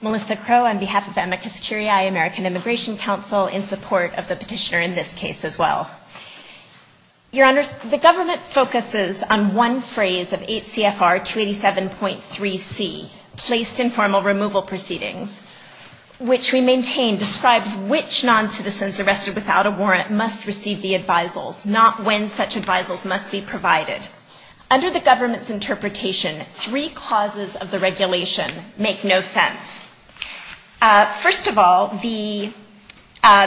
Melissa Crow on behalf of Amicus Curiae American Immigration Council in support of the petitioner in this case as well. Your Honor, the government focuses on one phrase of 8 CFR 287.3C, placed in formal removal proceedings, which we maintain describes which non-citizens arrested without a warrant must receive the advisals, not when such advisals must be provided. Under the regulations, first of all, the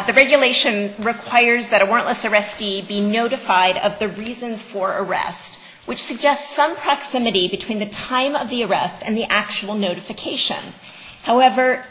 regulation requires that a warrantless arrestee be notified of the reasons for arrest, which suggests some proximity between the time of the arrest and the actual notification. However,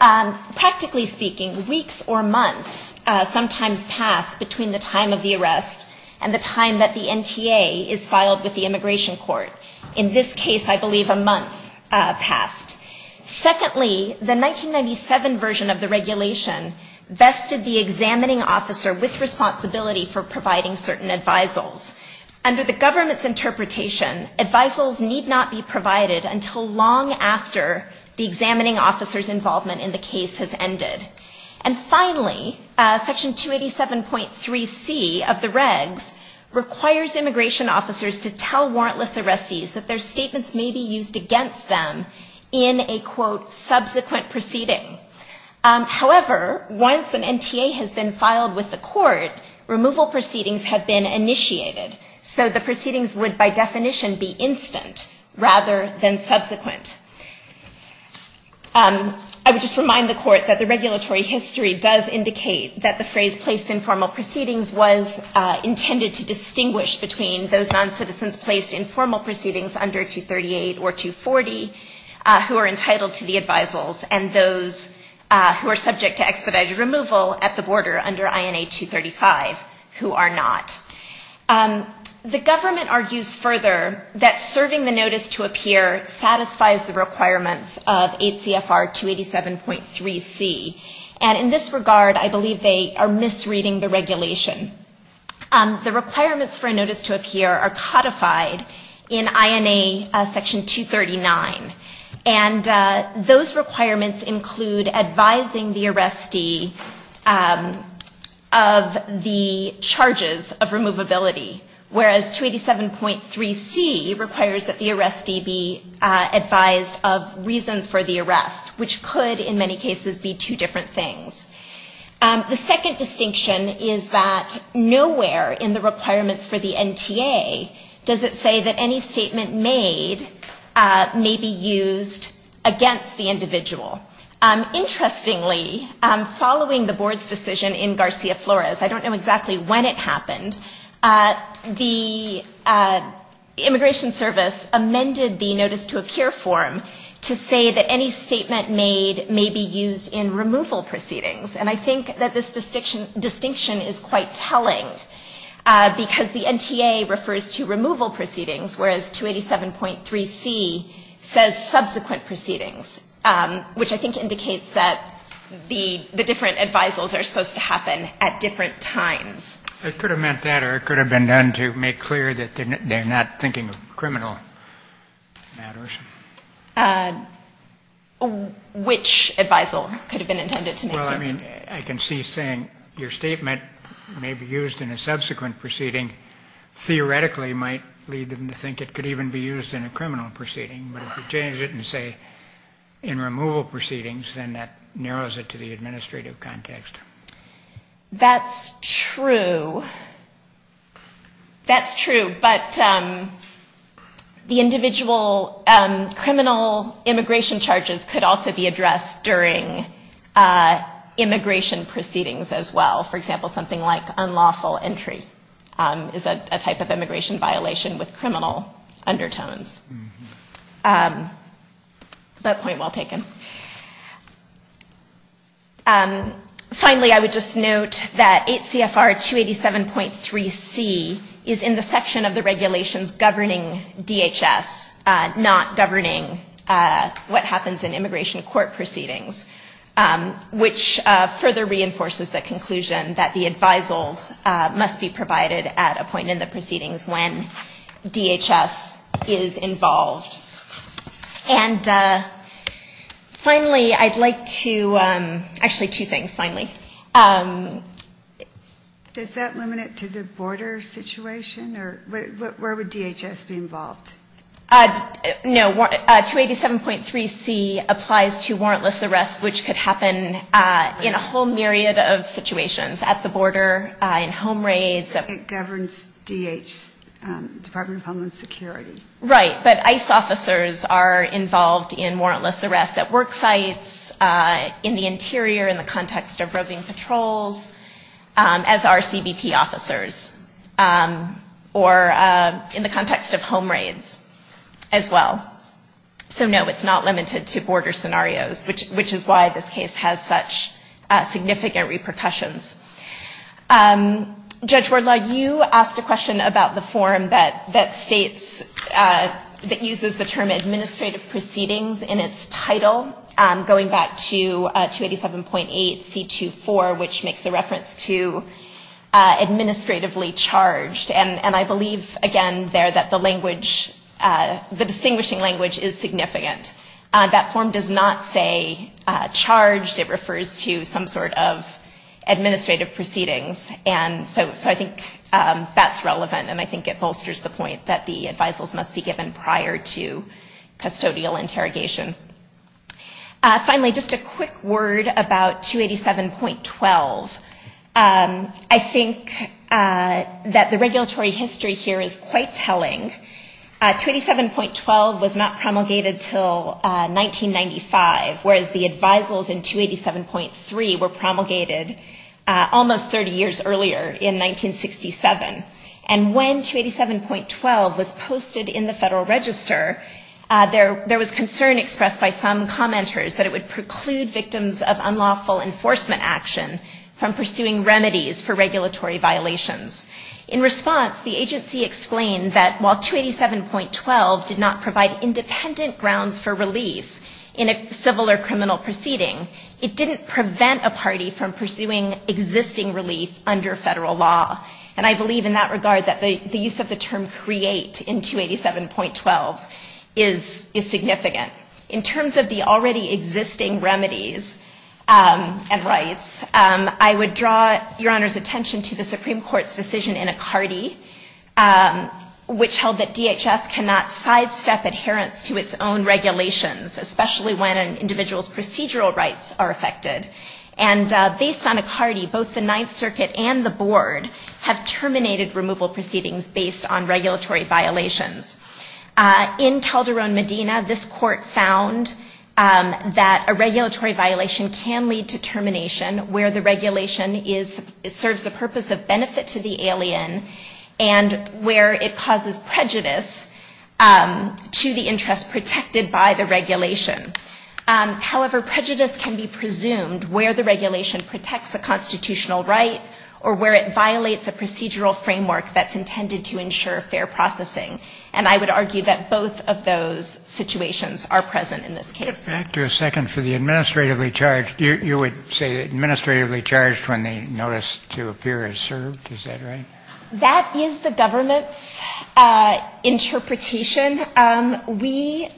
practically speaking, weeks or months sometimes pass between the time of the arrest and the time that the NTA is filed with the immigration court. In this case, I believe a month passed. Secondly, the 1997 version of the regulation vested the examining officer with responsibility for providing certain advisals. Under the government's interpretation, advisals need not be provided until long after the examining officer's involvement in the case has ended. And finally, Section 287.3C of the regs requires immigration officers to tell warrantless arrestees that their statements may be used against them in a, quote, subsequent proceeding. However, once an NTA has been filed with the court, removal proceedings have been initiated. So the proceedings would by definition be instant rather than subsequent. I would just remind the court that the regulatory history does indicate that the phrase placed in formal proceedings was intended to distinguish between those noncitizens placed in formal proceedings under 238 or 240 who are entitled to the advisals and those who are subject to expedited removal at the border under INA 235 who are not. The government argues further that serving the notice to a peer satisfies the requirements of 8 CFR 287.3C. And in this case, we're advocating the regulation. The requirements for a notice to a peer are codified in INA Section 239. And those requirements include advising the arrestee of the charges of removability, whereas 287.3C requires that the arrestee be advised of reasons for the arrest, which could in many cases be two different things. The second distinction is that nowhere in the requirements for the NTA does it say that any statement made may be used against the individual. Interestingly, following the board's decision in Garcia Flores, I don't know exactly when it happened, the Immigration Service amended the notice to a peer form to say that any statement made may be used in removal proceedings. And I think that this distinction is quite telling, because the NTA refers to removal proceedings, whereas 287.3C says subsequent proceedings, which I think indicates that the different advisals are supposed to happen at different times. It could have meant that, or it could have been done to make clear that they're not thinking of criminal matters. Which advisal could have been intended to make it? Well, I mean, I can see saying your statement may be used in a subsequent proceeding, theoretically might lead them to think it could even be used in a criminal proceeding. But if you change it and say in removal proceedings, then that narrows it to the administrative context. That's true. That's true. But the individual criminal immigration charges could also be addressed during immigration proceedings as well. For example, something like unlawful entry is a type of immigration violation with criminal undertones. But point well taken. Finally, I would just note that 8 CFR 287.3C is in the section of the regulations governing DHS, not governing what happens in immigration court proceedings, which further reinforces the conclusion that the advisals must be provided at a point in the proceedings when DHS is involved. And finally, I'd like to, actually two things finally. Does that limit it to the border situation? Or where would DHS be involved? No. 287.3C applies to warrantless arrests, which could happen in a whole myriad of situations at the border, in home raids. It governs DHS, Department of Homeland Security. Right. But ICE officers are involved in warrantless arrests at work sites, in the interior, in the context of roving patrols, as are CBP officers, or in the context of home raids as well. So no, it's not limited to border scenarios, which is why this case has such significant repercussions. Judge Wardlaw, you asked a question about the form that states, that uses the term administrative proceedings in its title, going back to 287.8C24, which makes a reference to administratively charged. And I believe, again, there that the language, the distinguishing language is significant. That form does not say charged. It refers to some sort of administrative proceedings. And so I think that's relevant, and I think it bolsters the point that the advisals must be given prior to custodial interrogation. Finally, just a quick word about 287.12. I think that the regulatory history here is quite telling. 287.12 was not promulgated until 1995, whereas the advisals in 287.3 were promulgated almost 30 years earlier, in 1967. And when 287.12 was posted in the Federal Register, there was concern expressed by some commenters that it would preclude victims of unlawful enforcement action from pursuing remedies for regulatory violations. While 287.12 did not provide independent grounds for relief in a civil or criminal proceeding, it didn't prevent a party from pursuing existing relief under Federal law. And I believe in that regard that the use of the term create in 287.12 is significant. In terms of the already existing remedies and rights, I would draw Your Honor's attention to the Supreme Court's decision in Icardi, which held that DHS cannot sidestep adherence to its own regulations, especially when an individual's procedural rights are affected. And based on Icardi, both the Ninth Circuit and the Board have terminated removal proceedings based on regulatory violations. In Calderon, Medina, this Court found that a regulatory violation can lead to termination where the regulation serves the purpose of benefit to the alien and where it causes prejudice to the interest protected by the regulation. However, prejudice can be presumed where the regulation protects a constitutional right or where it violates a procedural framework that's intended to ensure fair processing. And I would argue that both of those situations are present in this case. I would like to back to a second for the administratively charged. You would say administratively charged when they notice to appear as served, is that right? That is the government's interpretation. We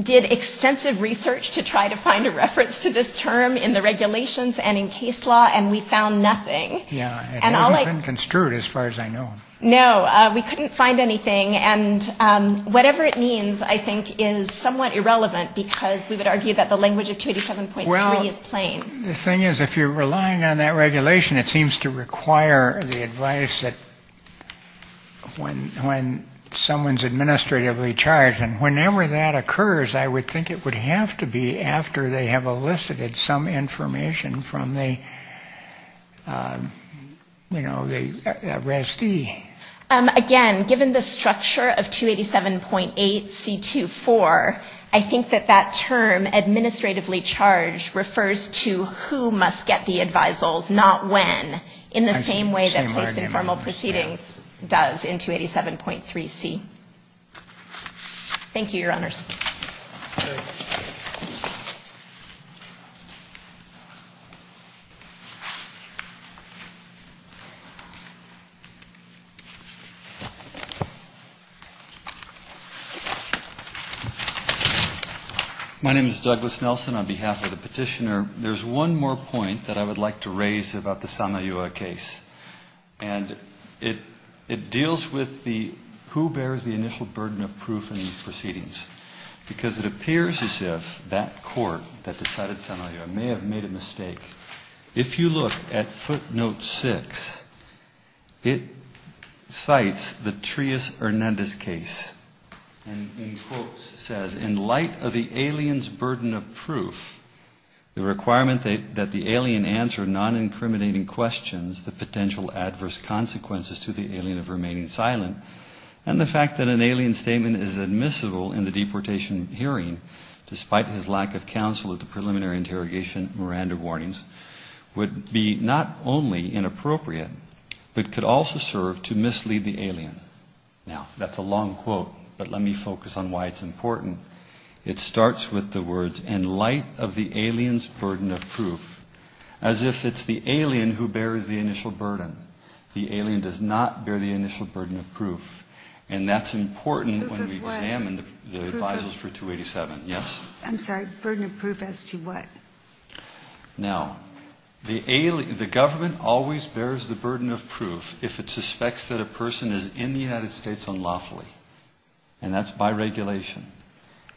did extensive research to try to find a reference to this term in the regulations and in case law, and we found nothing. Yeah. It hasn't been construed as far as I know. No. We couldn't find anything. And whatever it means, I think, is somewhat irrelevant, because we would argue that the language of 287.3 is plain. Well, the thing is, if you're relying on that regulation, it seems to require the advice that when someone's administratively charged, and whenever that occurs, I would think it would have to be after they have elicited some information from the, you know, the RASD head. Again, given the structure of 287.8C24, I think that that term, administratively charged, refers to who must get the advisals, not when, in the same way that placed informal proceedings does in 287.3C. Thank you, Your Honors. My name is Douglas Nelson. On behalf of the Petitioner, there's one more point that I would like to raise about the Sana'a case, and it deals with the who bears the initial burden of proof in these proceedings. Because it appears as if that court that decided Sana'a may have made a mistake. If you look at footnote six, it cites the Trias-Hernandez case, and in quotes says, in light of the alien's burden of proof, the requirement that the alien answer non-incriminating questions, the potential adverse consequences to the alien of remaining silent, and the fact that an alien statement is admissible in the deportation hearing, despite his lack of counsel at the preliminary interrogation, Miranda warnings, would be not only inappropriate, but could also serve to mislead the alien. Now, that's a long quote, but let me focus on why it's important. It starts with the words, in light of the alien's burden of proof, as if it's the alien who bears the initial burden. The alien does not bear the initial burden of proof, and that's important when we examine the advisals for 287. Yes? Now, the government always bears the burden of proof if it suspects that a person is in the United States unlawfully, and that's by regulation.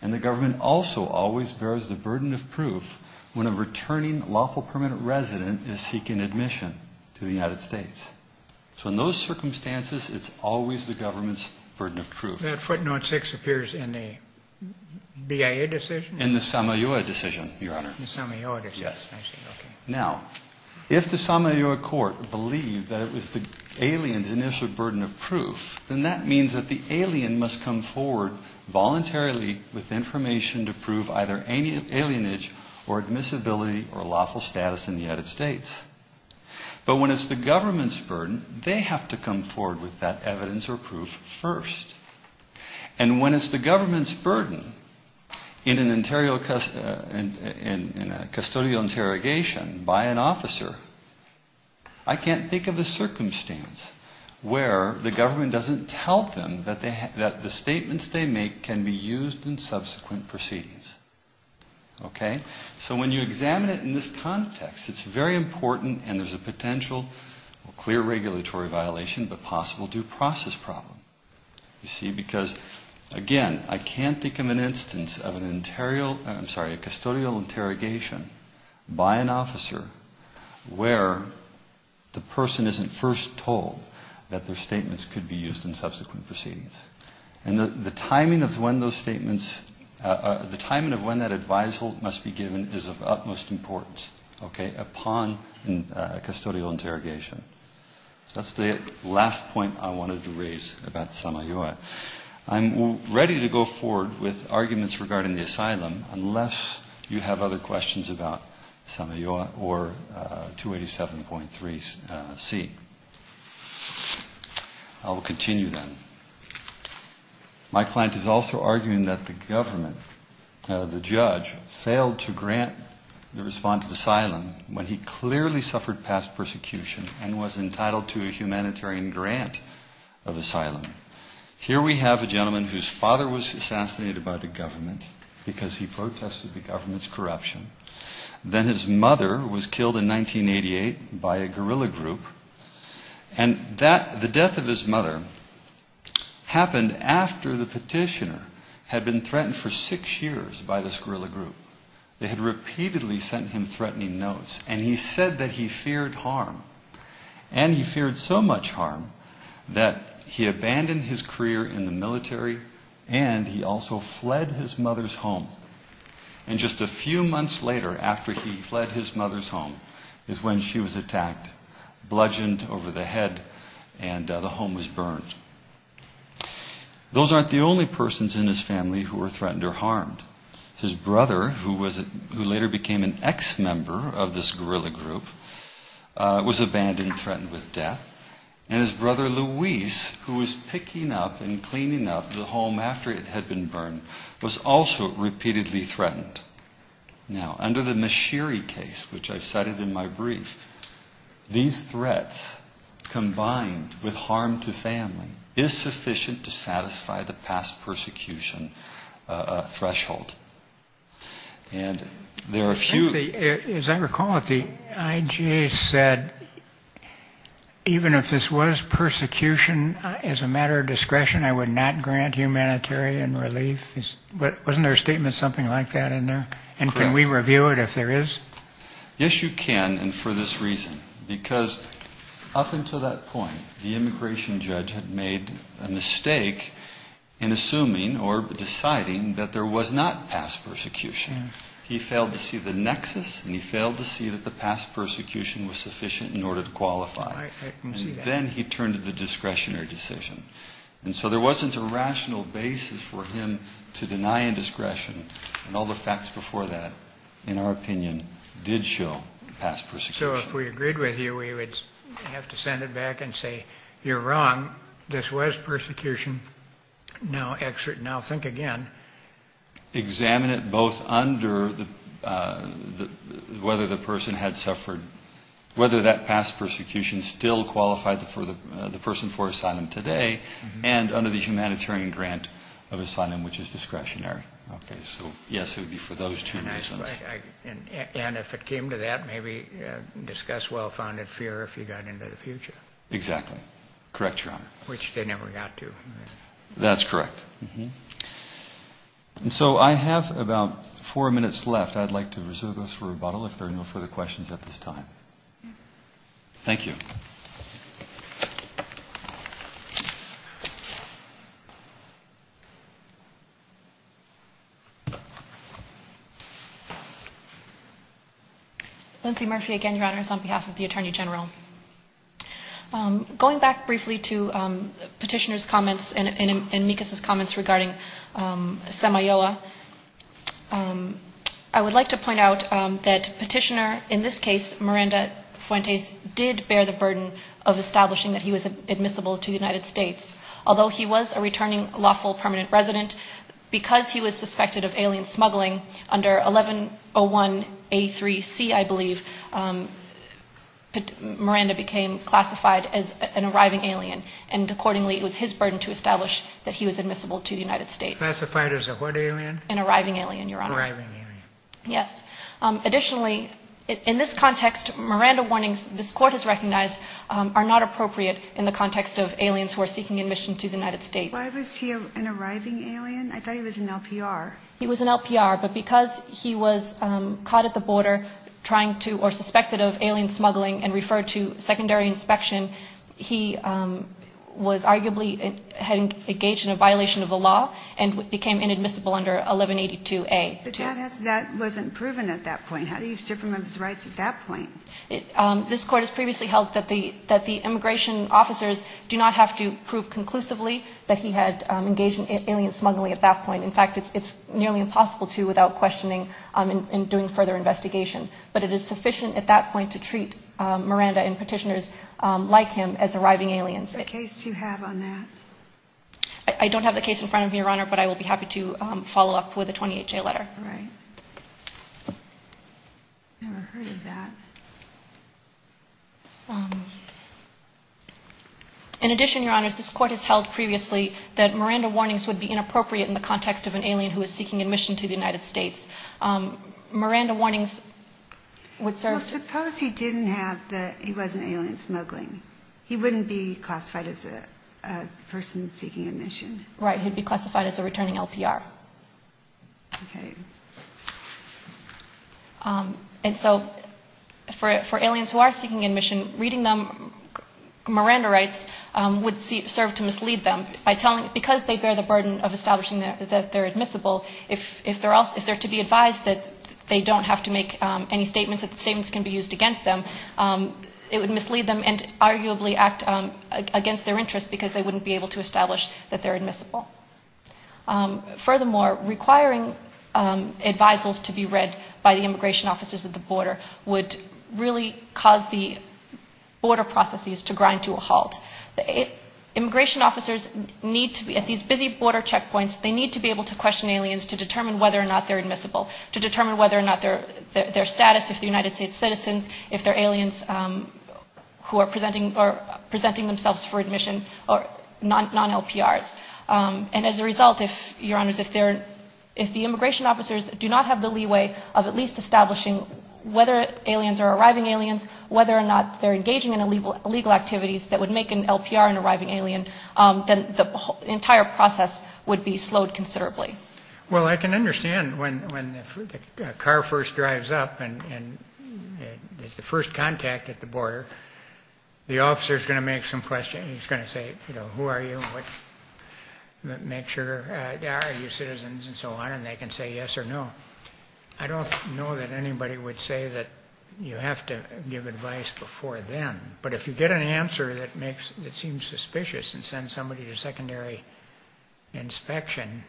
And the government also always bears the burden of proof when a returning lawful permanent resident is seeking admission to the United States. So in those circumstances, it's always the government's burden of proof. Now, if the Samayoa court believed that it was the alien's initial burden of proof, then that means that the alien must come forward voluntarily with information to prove either alienage or admissibility or lawful status in the United States. But when it's the government's burden, they have to come forward with that evidence or proof first. And when it's the government's burden, in a custodial interrogation by an officer, I can't think of a circumstance where the government doesn't tell them that the statements they make can be used in subsequent proceedings. Okay? So when you examine it in this context, it's very important, and there's a potential clear regulatory violation, but possible due process problem. You see, because, again, I can't think of an instance of an individual who has been given a custodial interrogation by an officer where the person isn't first told that their statements could be used in subsequent proceedings. And the timing of when those statements, the timing of when that advisal must be given is of utmost importance, okay, upon custodial interrogation. So that's the last point I wanted to raise about Samayoa. I'm ready to go forward with arguments regarding the asylum unless you have other questions about Samayoa or 287.3C. I will continue then. My client is also arguing that the government, the judge, failed to grant the response to the asylum when he clearly suffered past persecution and was entitled to a humanitarian grant of asylum. Here we have a gentleman whose father was assassinated by the government because he protested the government's corruption. Then his mother was killed in 1988 by a guerrilla group, and the death of his mother happened after the petitioner had been threatened for six years by this guerrilla group. They had repeatedly sent him threatening notes, and he said that he feared harm. And he feared so much harm that he abandoned his career in the military, and he also fled his mother's home. And just a few months later after he fled his mother's home is when she was attacked, bludgeoned over the head, and the home was burned. Those aren't the only persons in his family who were threatened or harmed. His brother, who later became an ex-member of this guerrilla group, was abandoned and abandoned. His brother, Luis, who was picking up and cleaning up the home after it had been burned, was also repeatedly threatened. Now, under the Mashiri case, which I've cited in my brief, these threats combined with harm to family is sufficient to satisfy the past persecution threshold. And there are a few... As I recall it, the IGA said even if this was persecution as a matter of discretion, I would not grant humanitarian relief. But wasn't there a statement something like that in there? And can we review it if there is? Yes, you can, and for this reason. Because up until that point, the immigration judge had made a mistake in assuming or deciding that there was not past persecution. He failed to see the nexus, and he failed to see that the past persecution was sufficient in order to qualify. And then he turned to the discretionary decision. And so there wasn't a rational basis for him to deny indiscretion, and all the facts before that, in our opinion, did show past persecution. So if we agreed with you, we would have to send it back and say, you're wrong. This was persecution. Now think again. Examine it both under whether the person had suffered, whether that past persecution still qualified the person for asylum today, and under the humanitarian grant of asylum, which is discretionary. So yes, it would be for those two reasons. And if it came to that, maybe discuss well-founded fear if you got into the future. Exactly. Correct, Your Honor. And so I have about four minutes left. I'd like to reserve those for rebuttal if there are no further questions at this time. Thank you. Lindsay Murphy again, Your Honors, on behalf of the Attorney General. Going back briefly to Petitioner's comments and Mikas' comments regarding Samayoa, I would like to point out that Petitioner, in this case, Miranda Fuentes, did bear the burden of establishing that he was admissible to the United States. Although he was a returning lawful permanent resident, because he was suspected of alien smuggling, under 1101A3C, I believe, Miranda became classified as an arriving alien, and accordingly, it was his burden to establish that he was admissible to the United States. Classified as a what alien? An arriving alien, Your Honor. Arriving alien. Yes. Additionally, in this context, Miranda warnings, this Court has recognized, are not appropriate in the context of aliens who are seeking admission to the United States. Why was he an arriving alien? I thought he was an LPR. He was an LPR, but because he was caught at the border trying to, or suspected of alien smuggling and referred to secondary inspection, he was arguably engaged in a violation of the law and became inadmissible under 1182A2. But that wasn't proven at that point. How do you strip him of his rights at that point? This Court has previously held that the immigration officers do not have to prove conclusively that he had engaged in alien smuggling at that point. In fact, it's nearly impossible to without questioning and doing further investigation. But it is sufficient at that point to treat Miranda and petitioners like him as arriving aliens. What case do you have on that? I don't have the case in front of me, Your Honor, but I will be happy to follow up with a 28-J letter. Right. Never heard of that. In addition, Your Honor, this Court has held previously that Miranda warnings would be inappropriate in the context of an alien who is seeking admission to the United States. Miranda warnings would serve to... Well, suppose he didn't have the, he was an alien smuggling. He wouldn't be classified as a person seeking admission. Right. He'd be classified as a returning LPR. Okay. And so for aliens who are seeking admission, reading them Miranda rights would serve to mislead them by telling... Because they bear the burden of establishing that they're admissible, if they're to be advised that they don't have to make any statements, that the statements can be used against them, it would mislead them and arguably act against their interests because they wouldn't be able to establish that they're admissible. Furthermore, requiring advisals to be read by the immigration officers at the border would really cause the border processes to grind to a halt. Immigration officers need to be, at these busy border checkpoints, they need to be able to question aliens to determine whether or not they're admissible, to determine whether or not their status as United States citizens, if they're aliens who are presenting themselves for admission or non-LPRs. And as a result, if, Your Honors, if the immigration officers do not have the leeway of at least establishing whether aliens are arriving aliens, whether or not they're engaging in illegal activities that would make an LPR an arriving alien, then the entire process would be slowed considerably. Well, I can understand when a car first drives up and is the first contact at the border, the officer is going to make some questions. He's going to say, you know, who are you, make sure, are you citizens and so on, and they can say yes or no. I don't know that anybody would say that you have to give advice before then, but if you get an answer that makes, that seems suspicious and send somebody to secondary inspection,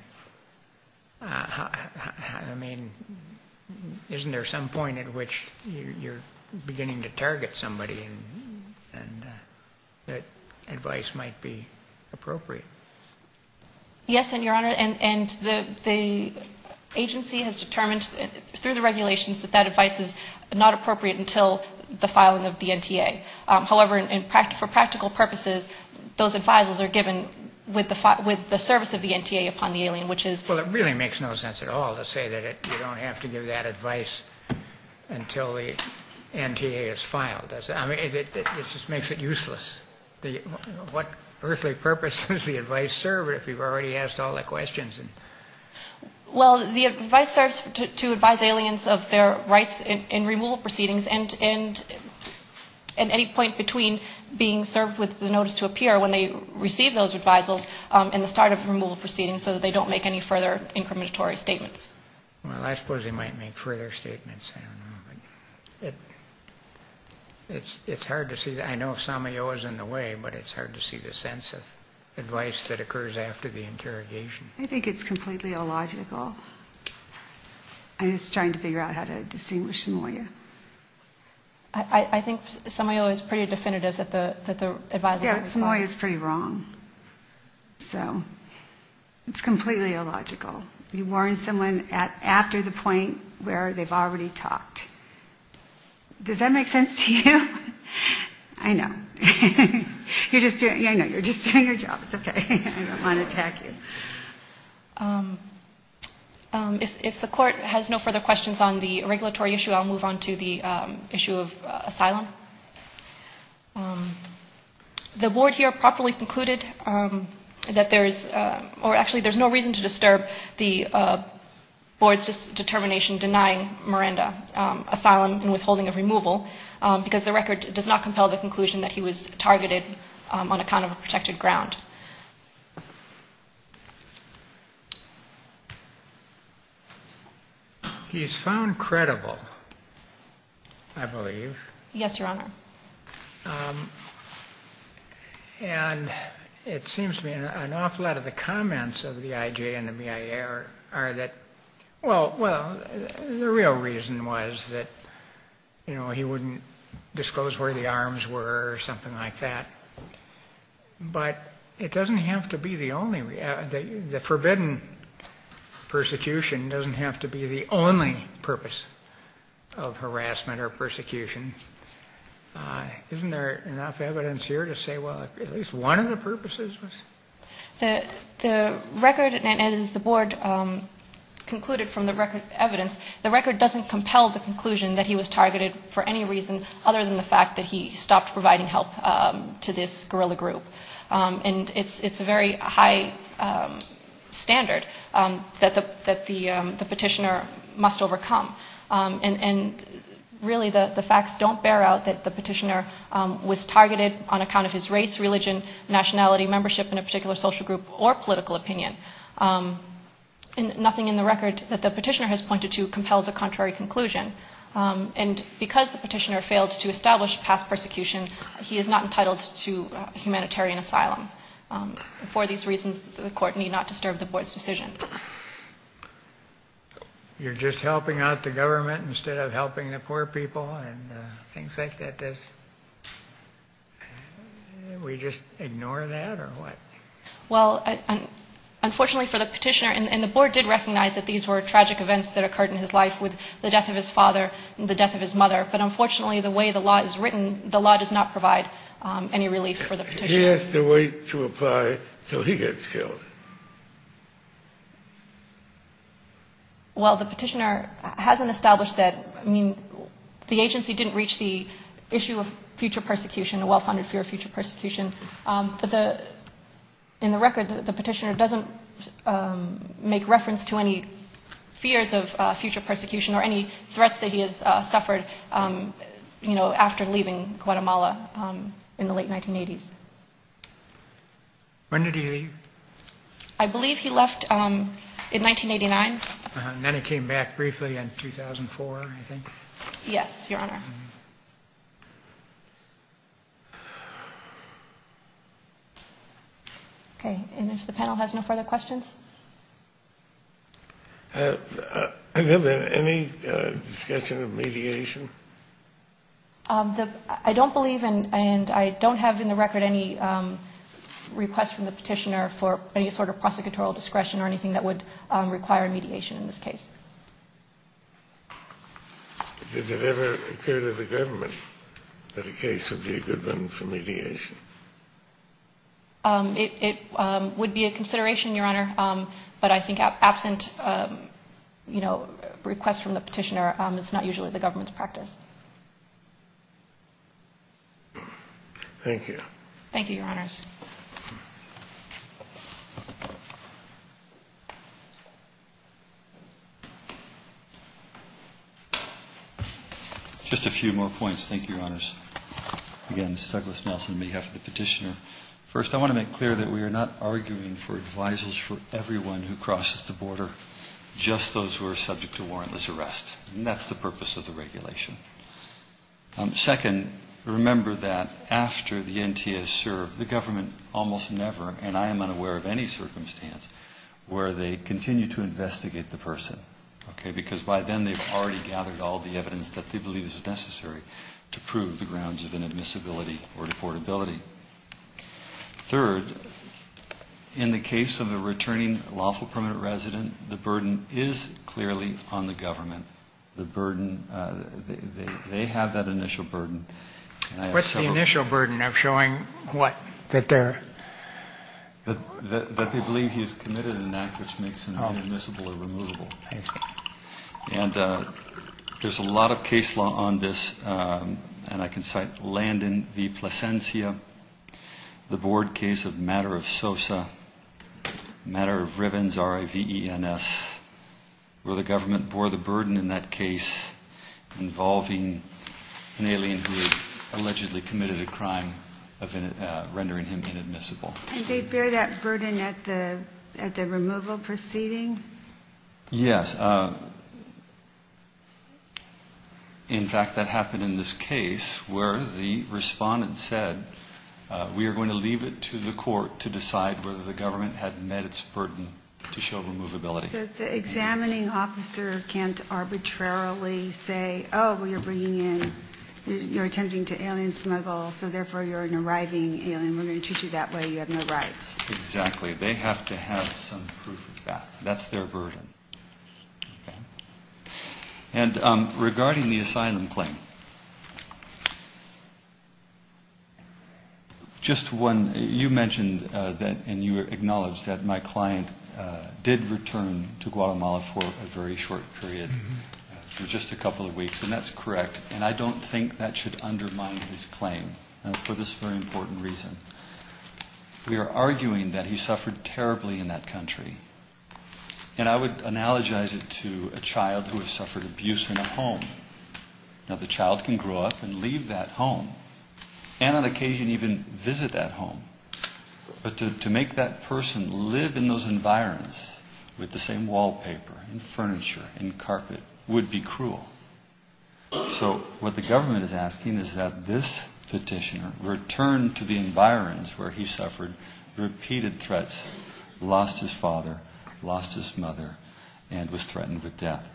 I mean, isn't there some point at which you're beginning to target somebody and that advice might be appropriate? Yes, and, Your Honor, and the agency has determined through the regulations that that advice is not appropriate until the filing of the NTA. However, for practical purposes, those advisers are given with the service of the NTA upon the alien, which is... Well, it really makes no sense at all to say that you don't have to give that advice until the NTA is filed. I mean, it just makes it useless. What earthly purpose does the advice serve if you've already asked all the questions? Well, the advice serves to advise aliens of their rights in removal proceedings and any point between being served with the notice to appear when they receive those advisals and the start of removal proceedings so that they don't make any further incriminatory statements. Well, I suppose they might make further statements. I don't know. It's hard to see. I know Samoyo is in the way, but it's hard to see the sense of advice that occurs after the interrogation. I think it's completely illogical. I'm just trying to figure out how to distinguish Samoyo. I think Samoyo is pretty definitive that the advice... Yeah, Samoyo is pretty wrong. So it's completely illogical. You warn someone after the point where they've already talked. Does that make sense to you? I know. You're just doing your job. It's okay. I don't want to attack you. If the court has no further questions on the regulatory issue, I'll move on to the issue of asylum. The board here properly concluded that there's... Actually, there's no reason to disturb the board's determination denying Miranda asylum and withholding of removal because the record does not compel the conclusion that he was targeted on account of a protected ground. He's found credible, I believe. Yes, Your Honor. And it seems to me an awful lot of the comments of the IJ and the BIA are that... Well, the real reason was that he wouldn't disclose where the arms were or something like that. But it doesn't have to be the only... The forbidden persecution doesn't have to be the only purpose of harassment or persecution. Isn't there enough evidence here to say, well, at least one of the purposes was...? The record, and as the board concluded from the record evidence, the record doesn't compel the conclusion that he was targeted for any reason other than the fact that he stopped providing help to this guerrilla group. And it's a very high standard that the petitioner must overcome. And really the facts don't bear out that the petitioner was targeted on account of his race, religion, nationality, membership in a particular social group or political opinion. And nothing in the record that the petitioner has pointed to compels a contrary conclusion. And because the petitioner failed to establish past persecution, he is not entitled to humanitarian asylum. For these reasons, the court need not disturb the board's decision. You're just helping out the government instead of helping the poor people and things like that? We just ignore that or what? Well, unfortunately for the petitioner, and the board did recognize that these were tragic events that occurred in his life with the death of his father and the death of his mother, but unfortunately the way the law is written, the law does not provide any relief for the petitioner. He has to wait to apply until he gets killed. Well, the petitioner hasn't established that. I mean, the agency didn't reach the issue of future persecution, a well-founded fear of future persecution. But in the record, the petitioner doesn't make reference to any fears of future persecution or any threats that he has suffered after leaving Guatemala in the late 1980s. When did he leave? I believe he left in 1989. And then he came back briefly in 2004, I think. Yes, Your Honor. Okay, and if the panel has no further questions? Has there been any discussion of mediation? I don't believe, and I don't have in the record any request from the petitioner for any sort of prosecutorial discretion or anything that would require mediation in this case. Did it ever occur to the government that a case would be a good one for mediation? It would be a consideration, Your Honor. But I think absent requests from the petitioner, it's not usually the government's practice. Thank you. Thank you, Your Honors. Just a few more points, thank you, Your Honors. Again, this is Douglas Nelson on behalf of the petitioner. First, I want to make clear that we are not arguing for advisers for everyone who crosses the border, just those who are subject to warrantless arrest. And that's the purpose of the regulation. Second, remember that after the NTA is served, the government almost never, and I am unaware of any circumstance, where they continue to investigate the person, okay, because by then they've already gathered all the evidence that they believe is necessary to prove the grounds of inadmissibility or deportability. Third, in the case of a returning lawful permanent resident, the burden is clearly on the government to investigate the person. The burden, they have that initial burden. What's the initial burden of showing what? That they believe he's committed an act which makes him inadmissible or removable. And there's a lot of case law on this, and I can cite Landon v. Plasencia, the Board case of Matter of Sosa, Matter of Rivens, R-I-V-E-N-S, where the government bore the burden in that case involving an alien who allegedly committed a crime of rendering him inadmissible. And they bear that burden at the removal proceeding? Yes. In fact, that happened in this case where the respondent said, we are going to leave it to the court to decide whether the government had met its burden to show removability. The examining officer can't arbitrarily say, oh, well, you're bringing in, you're attempting to alien smuggle, so therefore you're an arriving alien, we're going to treat you that way, you have no rights. Exactly. They have to have some proof of that. That's their burden. And regarding the asylum claim, just one. You mentioned and you acknowledged that my client did return to Guatemala for a very short period, for just a couple of weeks, and that's correct. And I don't think that should undermine his claim for this very important reason. We are arguing that he suffered terribly in that country. And I would analogize it to a child who has suffered abuse in a home. Now, the child can grow up and leave that home, and on occasion even visit that home. But to make that person live in those environs with the same wallpaper and furniture and carpet would be cruel. So what the government is asking is that this petitioner return to the environs where he suffered repeated threats, lost his father, lost his mother, and was threatened with death.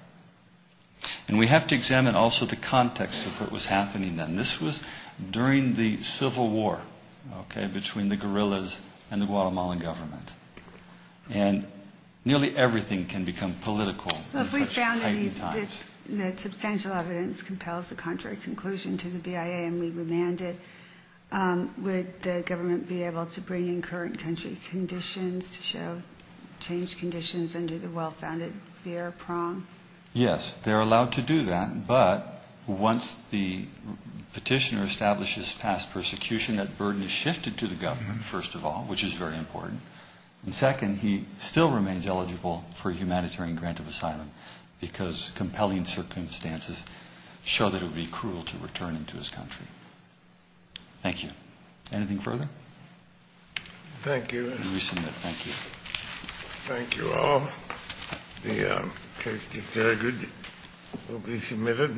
And we have to examine also the context of what was happening then. This was during the civil war, okay, between the guerrillas and the Guatemalan government. And nearly everything can become political in such tiny times. If we found any substantial evidence compels the contrary conclusion to the BIA and we remand it, would the government be able to bring in current country conditions to show changed conditions under the well-founded VR prong? Yes, they're allowed to do that, but once the petitioner establishes past persecution, that burden is shifted to the government, first of all, which is very important. And second, he still remains eligible for a humanitarian grant of asylum because compelling circumstances show that it would be cruel to return him to his country. Thank you. Anything further? Thank you. Thank you all.